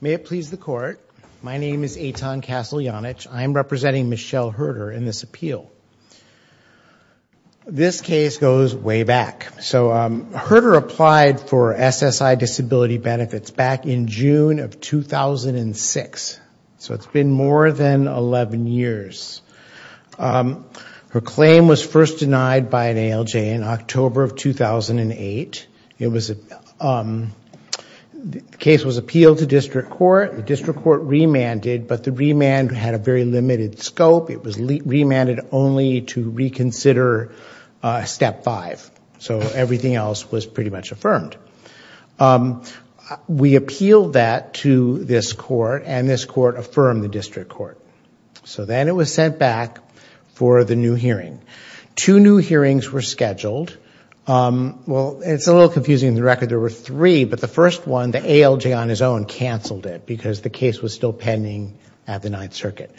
May it please the Court, my name is Eitan Kasteljanich. I'm representing Michelle Hurter in this appeal. This case goes way back. Hurter applied for SSI disability benefits back in June of 2006, so it's been more than 11 years. Her claim was first denied by an ALJ in October of 2008. The case was appealed to district court. The district court remanded, but the remand had a very limited scope. It was remanded only to reconsider step five, so everything else was pretty much affirmed. We appealed that to this court and this court affirmed the district court. So then it was sent back for the new hearing. Two new hearings were scheduled. Well, it's a little confusing the record. There were three, but the first one, the ALJ on his own, canceled it because the case was still pending at the Ninth Circuit.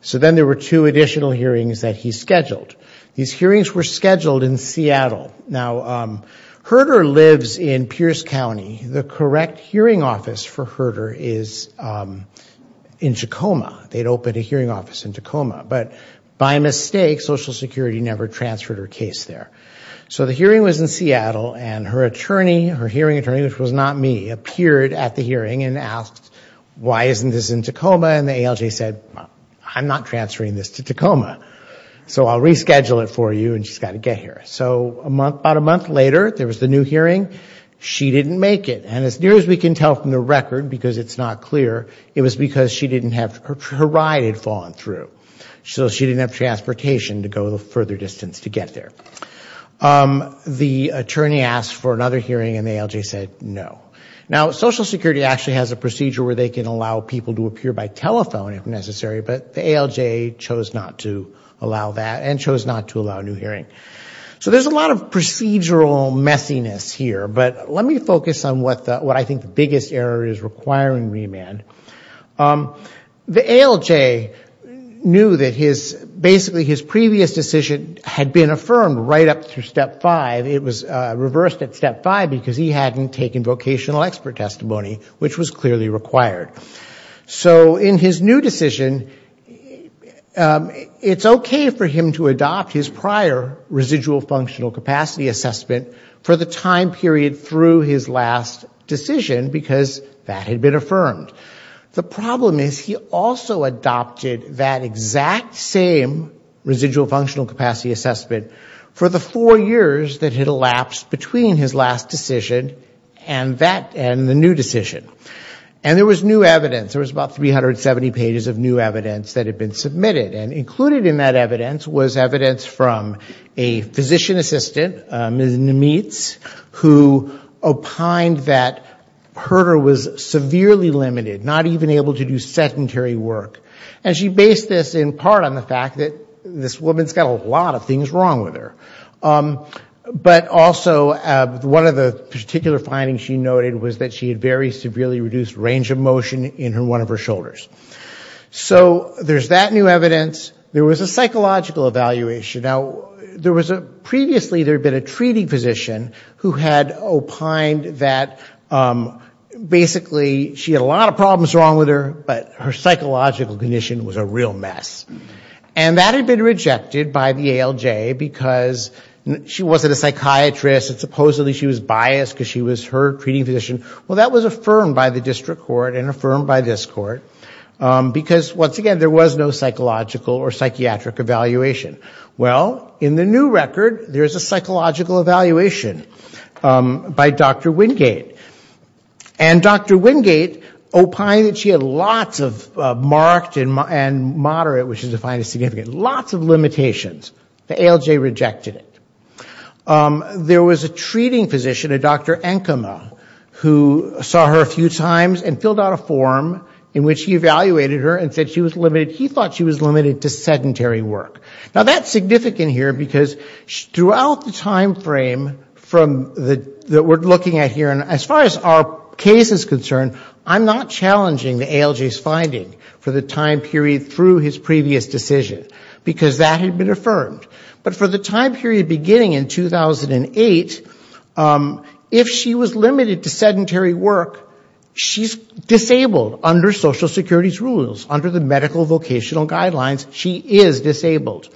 So then there were two additional hearings that he scheduled. These hearings were scheduled in Seattle. Now, Hurter lives in Pierce County. The hearing office in Tacoma. But by mistake, Social Security never transferred her case there. So the hearing was in Seattle and her attorney, her hearing attorney, which was not me, appeared at the hearing and asked, why isn't this in Tacoma? And the ALJ said, I'm not transferring this to Tacoma, so I'll reschedule it for you and she's got to get here. So about a month later, there was the new hearing. She didn't make it. And as near as we can tell from the record, because it's not clear, it was because her ride had fallen through. So she didn't have transportation to go the further distance to get there. The attorney asked for another hearing and the ALJ said no. Now, Social Security actually has a procedure where they can allow people to appear by telephone if necessary, but the ALJ chose not to allow that and chose not to allow a new hearing. So there's a lot of procedural messiness here, but let me focus on what I think the biggest error is requiring remand. The ALJ knew that basically his previous decision had been affirmed right up through Step 5. It was reversed at Step 5 because he hadn't taken vocational expert testimony, which was clearly required. So in his new decision, it's okay for him to adopt his prior residual functional capacity assessment for the time period through his last decision, because that had been affirmed. The problem is he also adopted that exact same residual functional capacity assessment for the four years that had elapsed between his last decision and the new decision. And there was new evidence. There was about 370 pages of new evidence that had been submitted. And included in that evidence was evidence from a physician assistant, Ms. Nemitz, who opined that Herter was severely limited, not even able to do sedentary work. And she based this in part on the fact that this woman's got a lot of things wrong with her. But also one of the particular findings she noted was that she had very severely reduced range of motion in one of her shoulders. So there's that new evidence. There was a psychological evaluation. Now, there was a, previously there had been a treating physician who had opined that basically she had a lot of problems wrong with her, but her psychological condition was a real mess. And that had been rejected by the ALJ because she wasn't a psychiatrist. Supposedly she was biased because she was her treating physician. Well, that was affirmed by the district court and affirmed by this court because, once again, there was no psychological or psychiatric evaluation. Well, in the new record, there's a psychological evaluation by Dr. Wingate. And Dr. Wingate opined that she had lots of marked and moderate, which is defined as significant, lots of limitations. The ALJ rejected it. There was a treating physician, a Dr. Enkema, who saw her a few times and filled out a form in which he evaluated her and said she was limited, he thought she was limited to sedentary work. Now, that's significant here because throughout the time frame from the, that we're looking at here, and as far as our case is concerned, I'm not challenging the ALJ's finding for the time period through his previous decision because that had been affirmed. But for the time period beginning in 2008, if she was limited to sedentary work, she's disabled under Social Security's rules, under the medical vocational guidelines, she is disabled.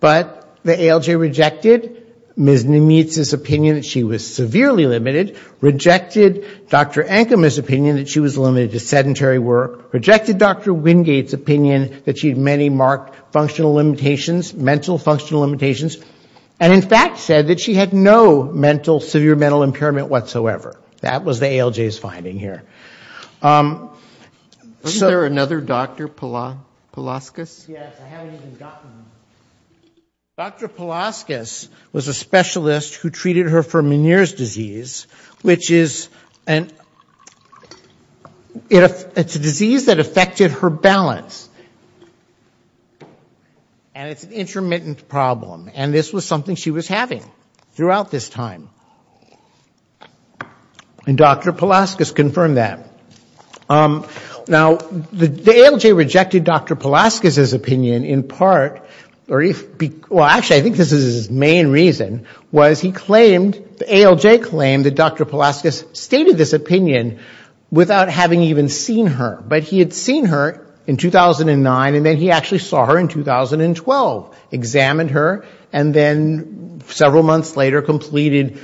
But the ALJ rejected Ms. Nimitz's opinion that she was severely limited, rejected Dr. Enkema's opinion that she was limited to sedentary work, rejected Dr. Wingate's opinion that she had many marked functional limitations, mental functional limitations, and in fact said that she had no mental, severe mental impairment whatsoever. That was the ALJ's finding here. So... Was there another Dr. Palaskis? Yes, I haven't even gotten... Dr. Palaskis was a specialist who treated her for Meniere's disease, which is a disease that affected her balance. And it's an intermittent problem. And this was something she was having throughout this time. And Dr. Palaskis confirmed that. Now the ALJ rejected Dr. Palaskis's opinion in part, or if... well, actually I think this is his main reason, was he claimed, the ALJ claimed that Dr. Palaskis stated this opinion without having even seen her. But he had seen her in 2009, and then he actually saw her in 2012, examined her, and then several months later completed,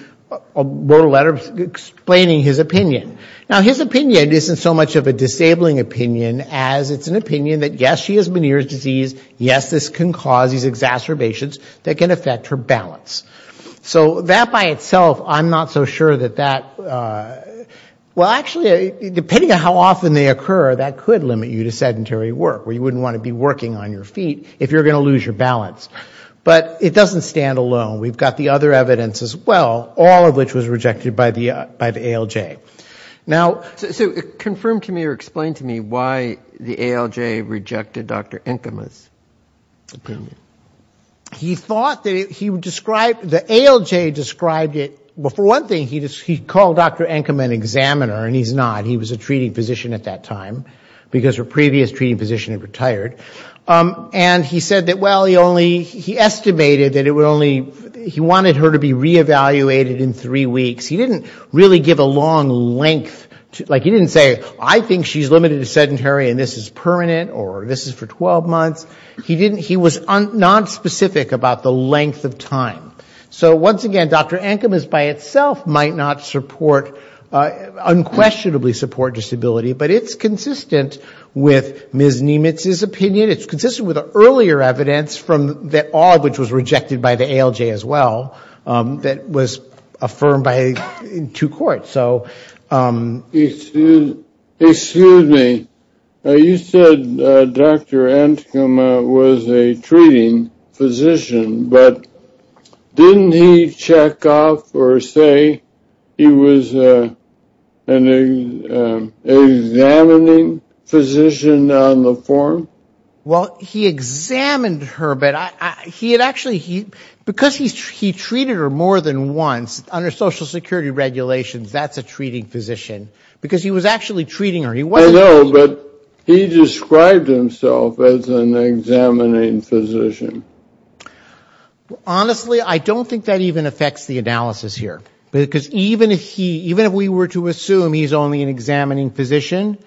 wrote a letter explaining his opinion. Now his opinion isn't so much of a disabling opinion as it's an opinion that yes, she has Meniere's disease, yes, this can cause these exacerbations that can affect her balance. So that by itself, I'm not so sure that that... well, actually, depending on how often they occur, that could limit you to sedentary work, where you wouldn't want to be working on your feet if you're going to lose your balance. But it doesn't stand alone. We've got the other evidence as well, all of which was rejected by the ALJ. Now so confirm to me or explain to me why the ALJ rejected Dr. Enkema's opinion. He thought that he described, the ALJ described it, well for one thing, he called Dr. Enkema an examiner, and he's not. He was a treating physician at that time, because her previous treating physician had retired. And he said that, well, he only, he estimated that it would only, he wanted her to be re-evaluated in three weeks. He didn't really give a long length, like he didn't say, I think she's limited to sedentary and this is permanent, or this is for 12 months. He didn't, he was nonspecific about the length of time. So once again, Dr. Enkema's by itself might not support, unquestionably support disability, but it's consistent with Ms. Nemitz's opinion. It's consistent with the earlier evidence from the, all of which was rejected by the ALJ as well, that was affirmed by two courts. Excuse me, you said Dr. Enkema was a treating physician, but didn't he check off or say he was an examining physician on the form? Well, he examined her, but he had actually, because he treated her more than once, under Social Security regulations, that's a treating physician, because he was actually treating her. I know, but he described himself as an examining physician. Honestly, I don't think that even affects the analysis here, because even if he, even if we were to assume he's only an examining physician,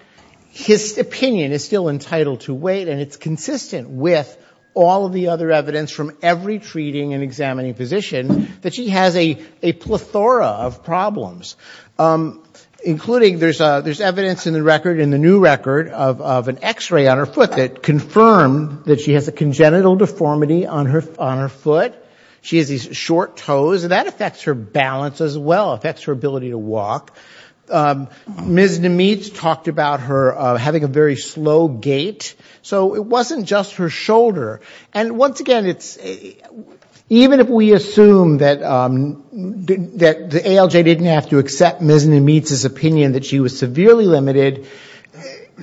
his opinion is still entitled to wait and it's consistent with all of the other evidence from every treating and examining physician, that she has a plethora of problems, including there's evidence in the record, in the new record, of an x-ray on her foot that confirmed that she has a congenital deformity on her foot. She has these short toes, and that affects her balance as well, affects her ability to walk. Ms. Nemitz talked about her having a very slow gait, so it wasn't just her shoulder. And once again, even if we assume that the ALJ didn't have to accept Ms. Nemitz's opinion that she was severely limited,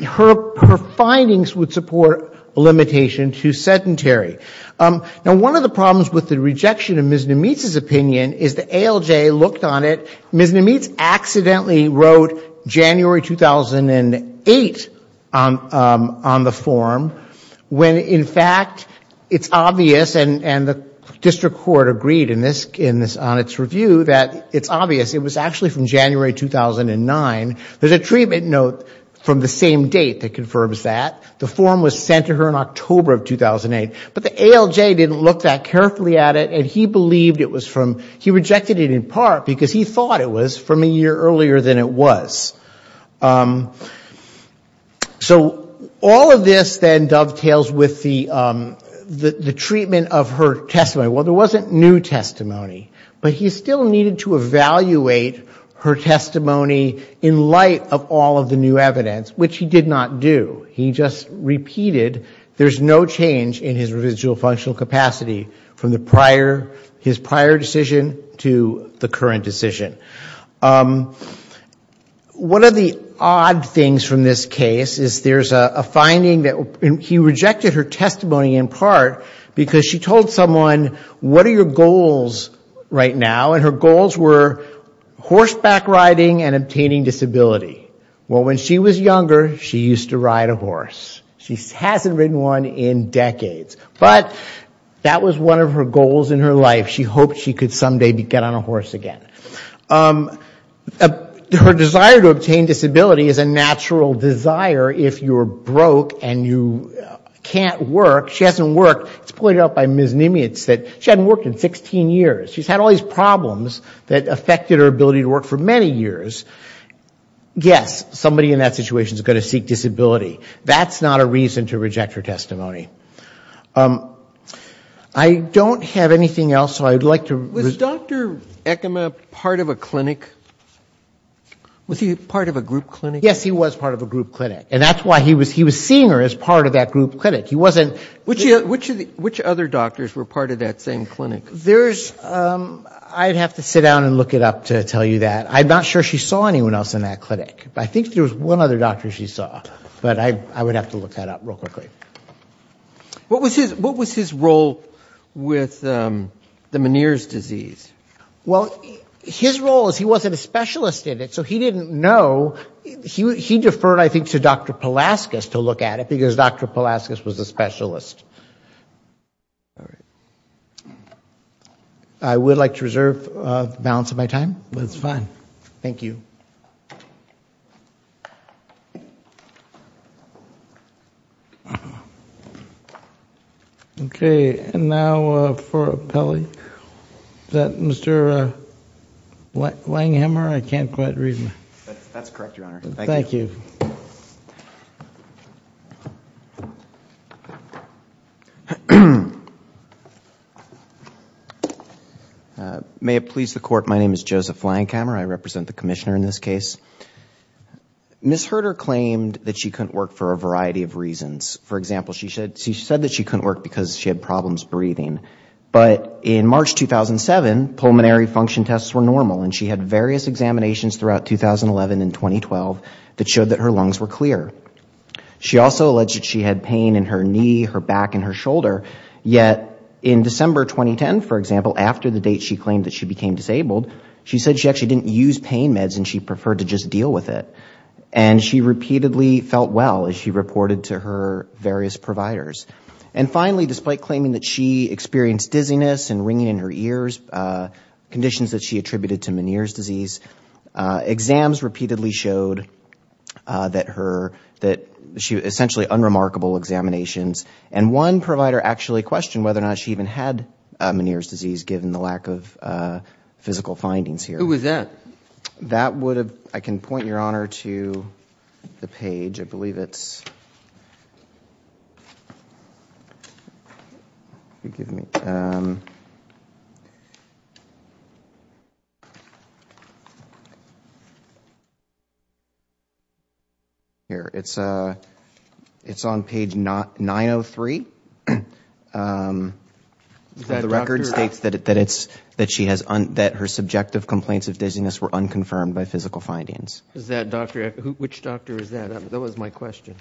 her findings would support a limitation to sedentary. Now, one of the problems with the rejection of Ms. Nemitz's opinion is the ALJ looked on it, Ms. Nemitz accidentally wrote January 2008 on the form, when in fact Ms. Nemitz had, it's obvious, and the district court agreed on its review that it's obvious, it was actually from January 2009. There's a treatment note from the same date that confirms that. The form was sent to her in October of 2008. But the ALJ didn't look that carefully at it, and he believed it was from, he rejected it in part because he thought it was from a year earlier than it was. So, all of this then dovetails with the treatment of her testimony. Well, there wasn't new testimony, but he still needed to evaluate her testimony in light of all of the new evidence, which he did not do. He just repeated, there's no change in his residual functional capacity from his prior decision to the current decision. One of the odd things from this case is there's a finding that he rejected her testimony in part because she told someone, what are your goals right now? And her goals were horseback riding and obtaining disability. Well, when she was younger, she used to ride a horse. She hasn't ridden one in decades. But that was one of her goals in her life. She hoped she could someday get on a horse again. Her desire to obtain disability is a natural desire if you're broke and you can't work. She hasn't worked. It's pointed out by Ms. Nimitz that she hasn't worked in 16 years. She's had all these problems that affected her ability to work for many years. Yes, somebody in that situation is going to seek disability. That's not a reason to reject her testimony. I don't have anything else, so I'd like to... Was Dr. Ekema part of a clinic? Was he part of a group clinic? Yes, he was part of a group clinic. And that's why he was seeing her as part of that group clinic. He wasn't... Which other doctors were part of that same clinic? There's, I'd have to sit down and look it up to tell you that. I'm not sure she saw anyone else in that clinic. I think there was one other doctor she saw, but I would have to look that up real quickly. What was his role with the Meniere's disease? Well, his role is he wasn't a specialist in it, so he didn't know. He deferred, I think, to Dr. Palaskis to look at it because Dr. Palaskis was a specialist. I would like to reserve the balance of my time. That's fine. Thank you. Okay, and now for appellee. Is that Mr. Langhammer? I can't quite read him. That's correct, Your Honor. Thank you. May it please the Court, my name is Joseph Langhammer. I represent the Commissioner in this case. Ms. Herter claimed that she couldn't work for a variety of reasons. For example, she said that she couldn't work because she had problems breathing. But in March 2007, pulmonary function tests were normal, and she had various examinations throughout 2011 and 2012 that showed that her lungs were clear. She also alleged that she had pain in her knee, her back, and her shoulder. Yet in December 2010, for example, after the date she claimed that she became disabled, she said she actually didn't use pain meds and she preferred to just deal with it. And she repeatedly felt well, as she reported to her various providers. And finally, despite claiming that she experienced dizziness and ringing in her ears, conditions that she attributed to Meniere's disease, exams repeatedly showed that she had essentially unremarkable examinations. And one provider actually questioned whether or not she even had Meniere's disease, given the lack of physical findings here. Who was that? I can point your honor to the page. I believe it's on page 903. The record states that her subjective complaints of dizziness were unconfirmed by physical findings. Which doctor is that? That was my question.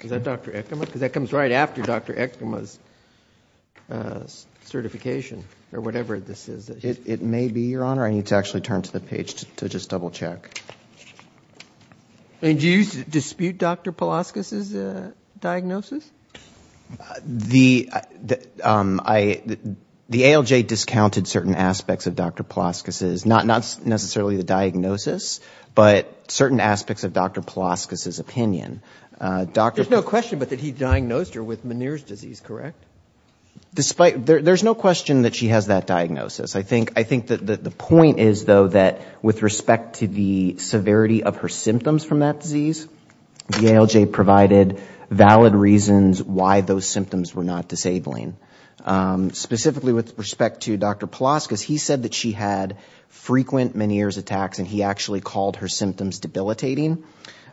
Is that Dr. Ekema? Because that comes right after Dr. Ekema's certification, or whatever this is. It may be, your honor. I need to actually turn to the page to just double check. And do you dispute Dr. Palaskis' diagnosis? The ALJ discounted certain aspects of Dr. Palaskis', not necessarily the diagnosis, but certain aspects of Dr. Palaskis' opinion. There's no question, but that he diagnosed her with Meniere's disease, correct? There's no question that she has that diagnosis. I think that the point is, though, that with respect to the severity of her symptoms from that disease, the ALJ provided valid reasons why those symptoms were not disabling. Specifically with respect to Dr. Palaskis, he said that she had frequent Meniere's attacks and he actually called her symptoms debilitating.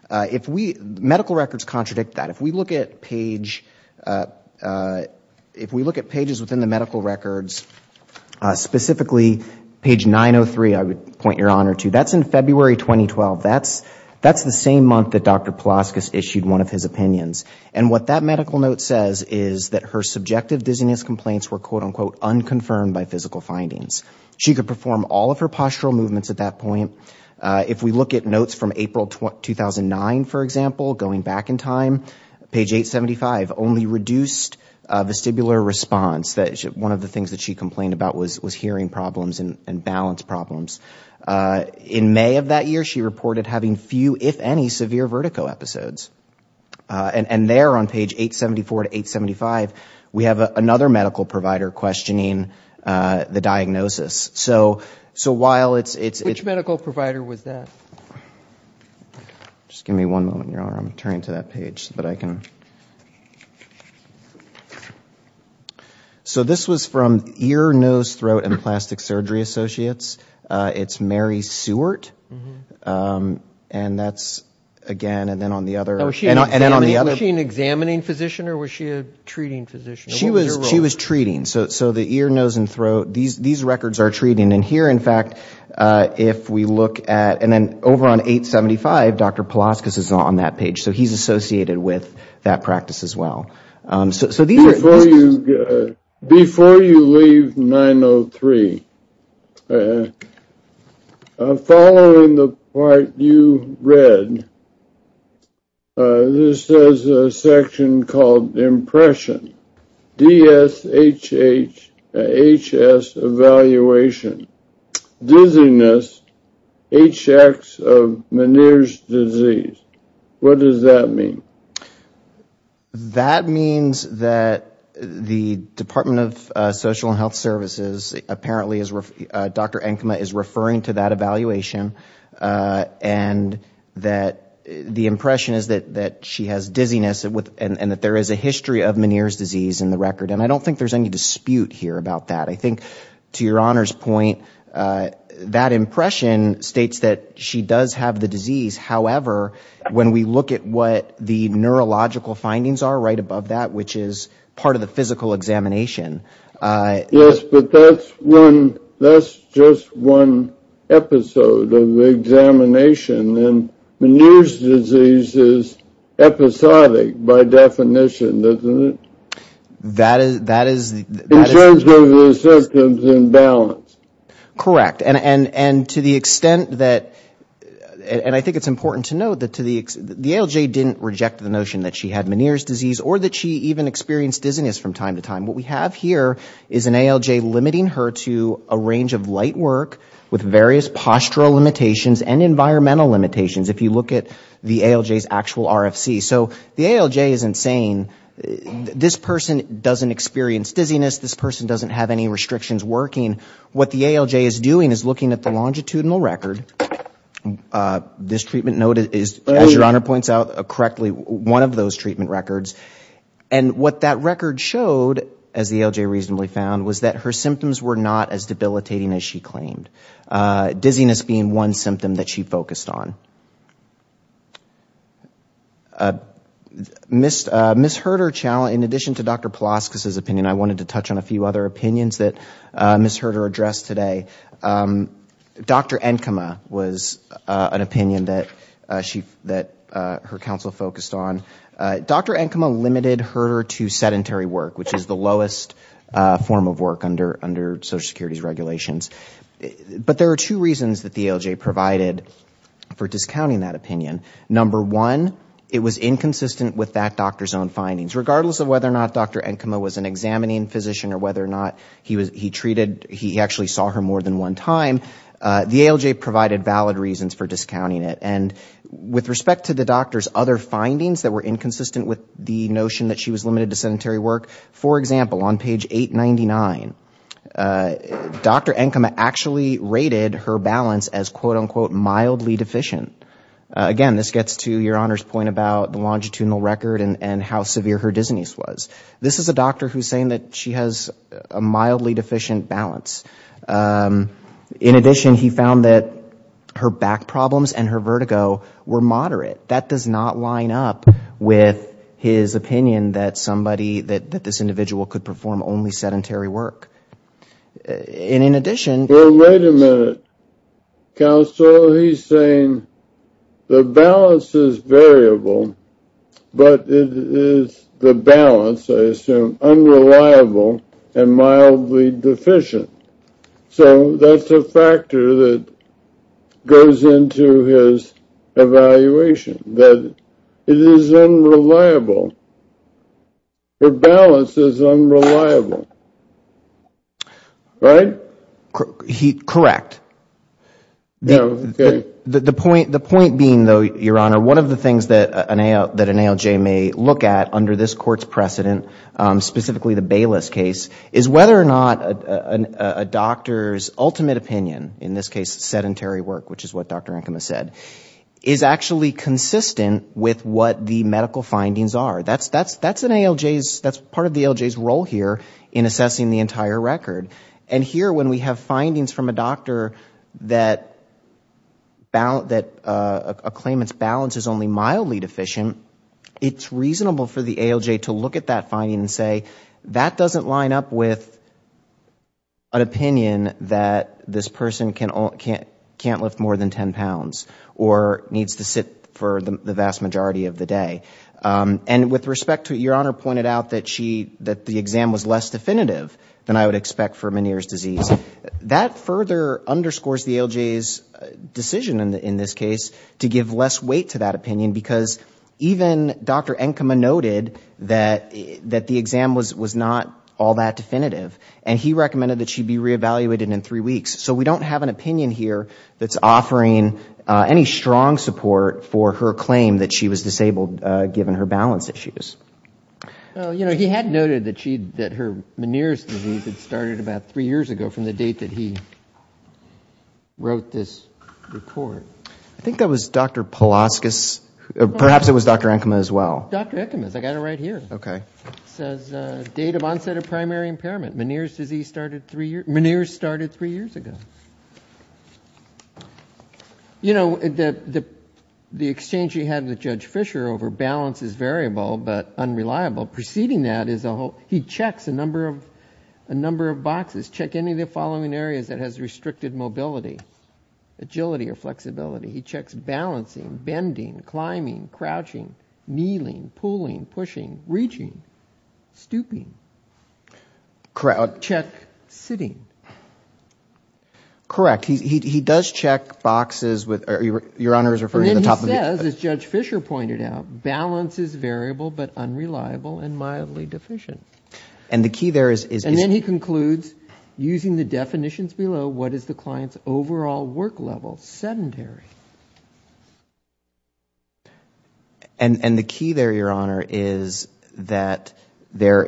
Medical records contradict that. If we look at pages within the medical records, specifically page 903, I would point your honor to, that's in February 2012. That's the same month that Dr. Palaskis issued one of his opinions. And what that medical note says is that her subjective dizziness complaints were, quote unquote, unconfirmed by physical findings. She could perform all of her postural movements at that point. If we look at notes from April 2009, for example, going back in time, page 875, only reduced vestibular response. One of the things that she complained about was hearing problems and balance problems. In May of that year, she reported having few, if any, severe vertigo episodes. And there on page 874 to 875, we have another medical provider questioning the diagnosis. So while it's... Which medical provider was that? Just give me one moment, your honor. I'm turning to that page so that I can... So this was from Ear, Nose, Throat and Plastic Surgery Associates. It's Mary Seward. And that's, again, and then on the other... Was she an examining physician or was she a treating physician? She was treating. So the ear, nose and throat, these records are treating. And here, in fact, if we look at... And then over on 875, Dr. Palaskis is on that page. So he's associated with that practice as well. So these are... Before you leave 903, following the part you read, this is a section called Impression, DSHHS Evaluation, Dizziness, HX of Meniere's Disease. What does that mean? That means that the Department of Social and Health Services, apparently, Dr. Enkema is referring to that evaluation. And that the impression is that she has dizziness and that there is a history of Meniere's Disease in the record. And I don't think there's any dispute here about that. I think, to your Honor's point, that impression states that she does have the disease. However, when we look at what the neurological findings are right above that, which is part of the physical examination... Yes, but that's one... That's just one episode of the examination. And Meniere's Disease is episodic by definition, isn't it? In terms of the symptoms and balance. Correct, and to the extent that... And I think it's important to note that the ALJ didn't reject the notion that she had Meniere's Disease or that she even experienced dizziness from time to time. What we have here is an ALJ limiting her to a range of light work with various postural limitations and environmental limitations if you look at the ALJ's actual RFC. So the ALJ isn't saying, this person doesn't experience dizziness, this person doesn't have any restrictions working. What the ALJ is doing is looking at the longitudinal record. This treatment note is, as your Honor points out correctly, one of those treatment records. And what that record showed, as the ALJ reasonably found, was that her symptoms were not as debilitating as she claimed. Dizziness being one symptom that she focused on. Ms. Herter, in addition to Dr. Pulaski's opinion, I wanted to touch on a few other opinions that Ms. Herter addressed today. Dr. Enkema was an opinion that her counsel focused on. Dr. Enkema limited Herter to sedentary work, which is the lowest form of work under Social But there are two reasons that the ALJ provided for discounting that opinion. Number one, it was inconsistent with that doctor's own findings, regardless of whether or not Dr. Enkema was an examining physician or whether or not he treated, he actually saw her more than one time, the ALJ provided valid reasons for discounting it. And with respect to the doctor's other findings that were inconsistent with the notion that she was limited to sedentary work, for example, on page 899, Dr. Enkema actually rated her balance as quote unquote mildly deficient. Again, this gets to your Honor's point about the longitudinal record and how severe her dizziness was. This is a doctor who is saying that she has a mildly deficient balance. In addition, he found that her back problems and her vertigo were moderate. That does not line up with his opinion that somebody, that this individual could perform only sedentary work. And in addition... Well, wait a minute. Counsel, he's saying the balance is variable, but it is the balance, I assume, unreliable and mildly deficient. So that's a factor that goes into his evaluation, that it is unreliable. Her balance is unreliable, right? Correct. The point being, though, Your Honor, one of the things that an ALJ may look at under this is a doctor's ultimate opinion, in this case sedentary work, which is what Dr. Enkema said, is actually consistent with what the medical findings are. That's part of the ALJ's role here in assessing the entire record. And here, when we have findings from a doctor that a claimant's balance is only mildly deficient, it's reasonable for the ALJ to look at that finding and say, that doesn't line up with an opinion that this person can't lift more than 10 pounds or needs to sit for the vast majority of the day. And with respect to, Your Honor pointed out that the exam was less definitive than I would expect for Meniere's disease. That further underscores the ALJ's decision in this case to give less weight to that opinion because even Dr. Enkema noted that the exam was not all that definitive. And he recommended that she be re-evaluated in three weeks. So we don't have an opinion here that's offering any strong support for her claim that she was disabled given her balance issues. Well, you know, he had noted that her Meniere's disease had started about three years ago from the date that he wrote this report. I think that was Dr. Palaskis, perhaps it was Dr. Enkema as well. Dr. Enkema's, I got it right here. Okay. It says, date of onset of primary impairment, Meniere's disease started three years, Meniere's started three years ago. You know, the exchange he had with Judge Fisher over balance is variable but unreliable. Preceding that is a whole, he checks a number of boxes, check any of the following areas that has restricted mobility, agility, or flexibility. He checks balancing, bending, climbing, crouching, kneeling, pulling, pushing, reaching, stooping. Check sitting. Correct. He does check boxes with, your honor is referring to the top of the. And then he says, as Judge Fisher pointed out, balance is variable but unreliable and mildly deficient. And the key there is. And then he concludes, using the definitions below, what is the client's overall work level, sedentary. And the key there, your honor, is that there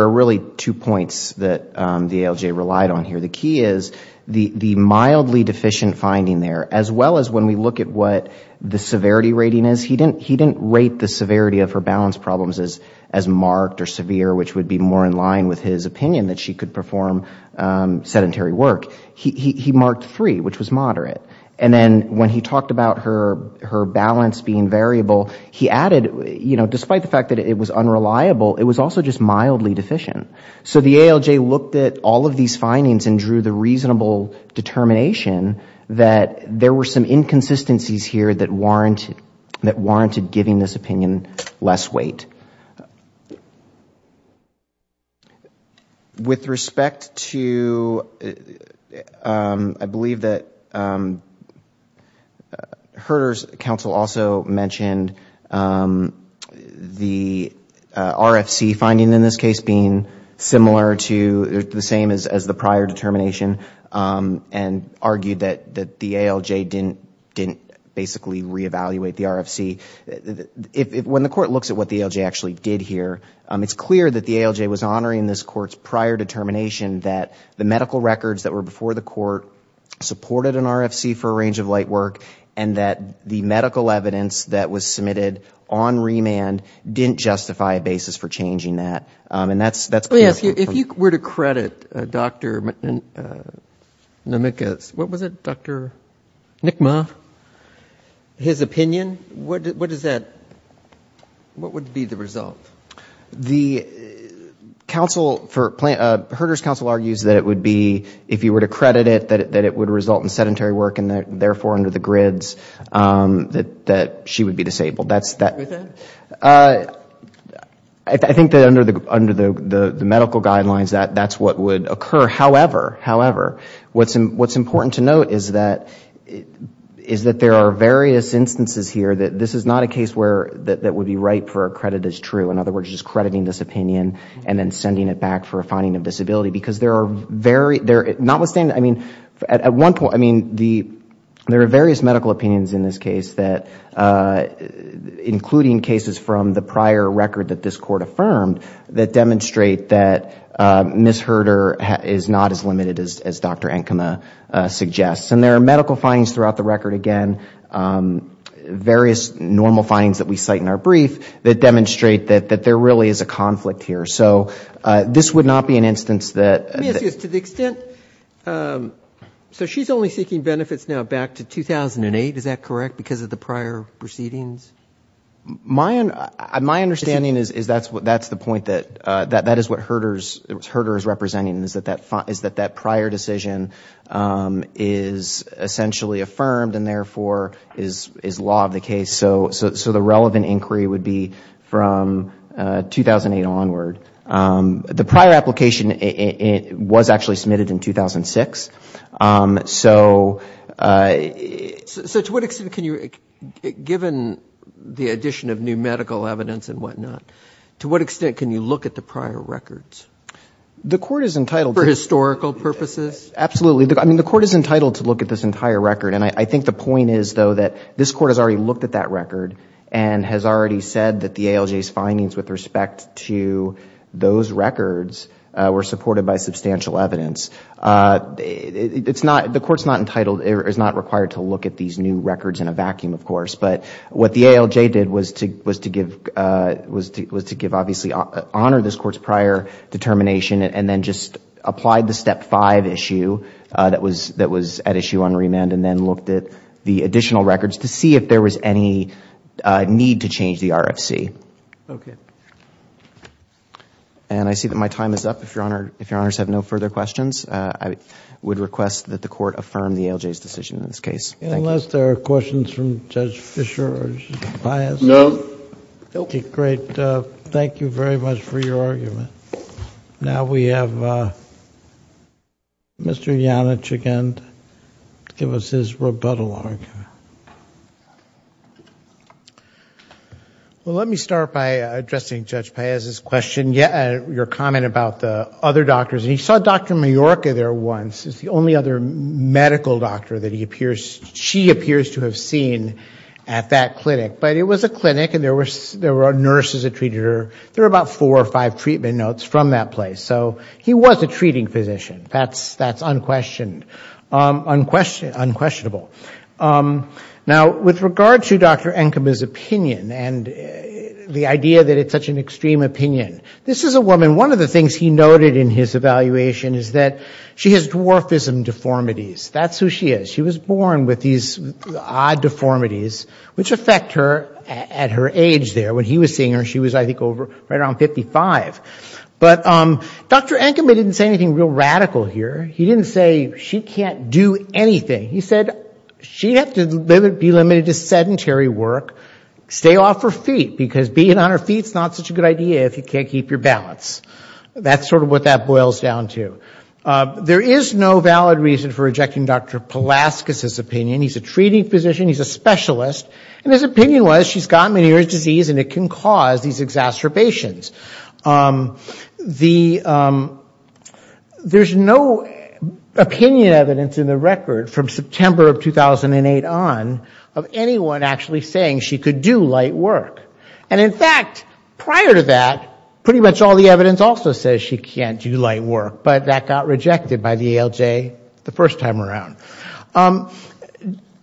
are really two points that the ALJ relied on here. The key is, the mildly deficient finding there, as well as when we look at what the severity rating is, he didn't rate the severity of her balance problems as marked or severe, which would be more in line with his opinion that she could perform sedentary work. He marked three, which was moderate. And then when he talked about her balance being variable, he added, despite the fact that it was unreliable, it was also just mildly deficient. So the ALJ looked at all of these findings and drew the reasonable determination that there were some inconsistencies here that warranted giving this opinion less weight. With respect to, I believe that Herter's counsel also mentioned the RFC finding in this case being similar to, the same as the prior determination, and argued that the ALJ didn't basically reevaluate the RFC. When the court looks at what the ALJ actually did here, it's clear that the ALJ was honoring this court's prior determination that the medical records that were before the court supported an RFC for a range of light work, and that the medical evidence that was submitted on remand didn't justify a basis for changing that. And that's clear. If you were to credit Dr. Nomicka's, what was it, Dr. Nikma, his opinion, what is that, what would be the result? The counsel, Herter's counsel argues that it would be, if you were to credit it, that it would result in sedentary work, and therefore under the grids, that she would be disabled. I think that under the medical guidelines, that's what would occur. However, what's important to note is that there are various instances here that this is not a case that would be ripe for a credit as true, in other words, just crediting this opinion and then sending it back for a finding of disability, because there are various medical opinions in this case that, including cases from the prior record that this court affirmed, that demonstrate that Ms. Herter is not as limited as Dr. Nikma suggests. And there are medical findings throughout the record, again, various normal findings that we cite in our brief that demonstrate that there really is a conflict here. So this would not be an instance that Let me ask you this. To the extent, so she's only seeking benefits now back to 2008, is that correct, because of the prior proceedings? My understanding is that's the point that, that is what Herter is representing, is that that prior decision is essentially affirmed and therefore is law of the case. So the relevant inquiry would be from 2008 onward. The prior application was actually submitted in 2006. So to what extent can you, given the addition of new medical evidence and whatnot, to what extent can you look at the prior records? The court is entitled For historical purposes? Absolutely. I mean, the court is entitled to look at this entire record. And I think the point is, though, that this court has already looked at that record and has already said that the ALJ's findings with respect to those records were supported by substantial evidence. The court's not entitled, is not required to look at these new records in a vacuum, of course. But what the ALJ did was to give, obviously, honor this court's prior determination and then just applied the step five issue that was at issue on remand and then looked at the additional records to see if there was any need to change the RFC. And I see that my time is up. If Your Honor, if Your Honors have no further questions, I would request that the court affirm the ALJ's decision in this case. Thank you. Unless there are questions from Judge Fischer or Judge Papias? No. Okay, great. Thank you very much for your argument. Now we have Mr. Janich again to give us his rebuttal argument. Let me start by addressing Judge Papias' question, your comment about the other doctors. He saw Dr. Majorca there once, the only other medical doctor that he appears, she appears to have seen at that clinic. But it was a clinic and there were nurses that treated her. There were about four or five treatment notes from that place. So he was a treating physician. That's unquestioned, unquestionable. Now with regard to Dr. Enkema's opinion and the idea that it's such an extreme opinion, this is a woman, one of the things he noted in his evaluation is that she has dwarfism deformities. That's who she is. She was born with these odd deformities which affect her at her age there. When he was seeing her, she was I think over, right around 55. But Dr. Enkema didn't say anything real radical here. He didn't say she can't do anything. He said she'd have to be limited to sedentary work, stay off her feet because being on her feet is not such a good idea if you can't keep your balance. That's sort of what that boils down to. There is no valid reason for rejecting Dr. Palaskis' opinion. He's a treating physician. He's a specialist. And his opinion was she's got Meniere's disease and it can cause these exacerbations. There's no opinion evidence in the record from September of 2008 on of anyone actually saying she could do light work. And in fact, prior to that, pretty much all the evidence also says she can't do light work, but that got rejected by the ALJ the first time around.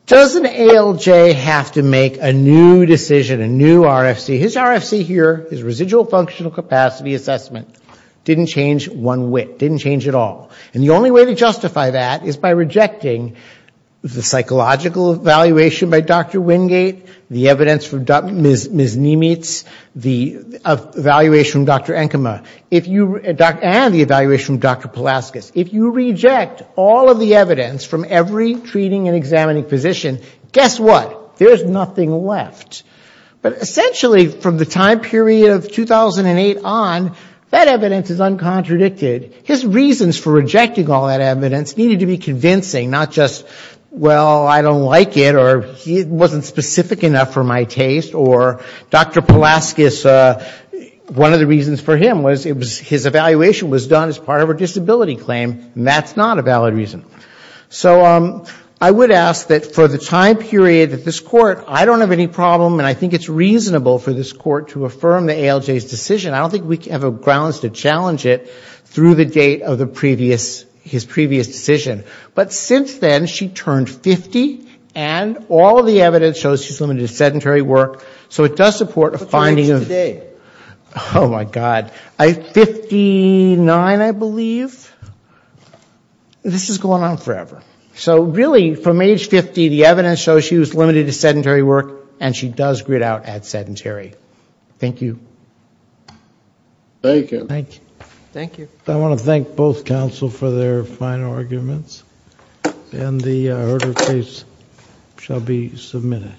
Doesn't ALJ have to make a new decision, a new RFC? His RFC here, his residual functional capacity assessment, didn't change one whit, didn't change at all. And the only way to justify that is by rejecting the psychological evaluation by Dr. Wingate, the evidence from Ms. Niemietz, the evaluation from Dr. Enkema, and the evaluation from Dr. Palaskis. If you reject all of the evidence from every treating and examining physician, guess what? There's nothing left. But essentially from the time period of 2008 on, that evidence is uncontradicted. His reasons for rejecting all that evidence needed to be convincing, not just, well, I don't like it, or it wasn't specific enough for my taste, or Dr. Palaskis, one of the I would ask that for the time period that this Court, I don't have any problem and I think it's reasonable for this Court to affirm the ALJ's decision. I don't think we have grounds to challenge it through the date of the previous, his previous decision. But since then, she turned 50, and all the evidence shows she's limited to sedentary work. So it does support a finding of What's her age today? Oh, my God. 59, I believe. This is going on forever. So really, from age 50, the evidence shows she was limited to sedentary work, and she does grid out at sedentary. Thank you. Thank you. Thank you. I want to thank both counsel for their fine arguments. And the order of case shall be submitted.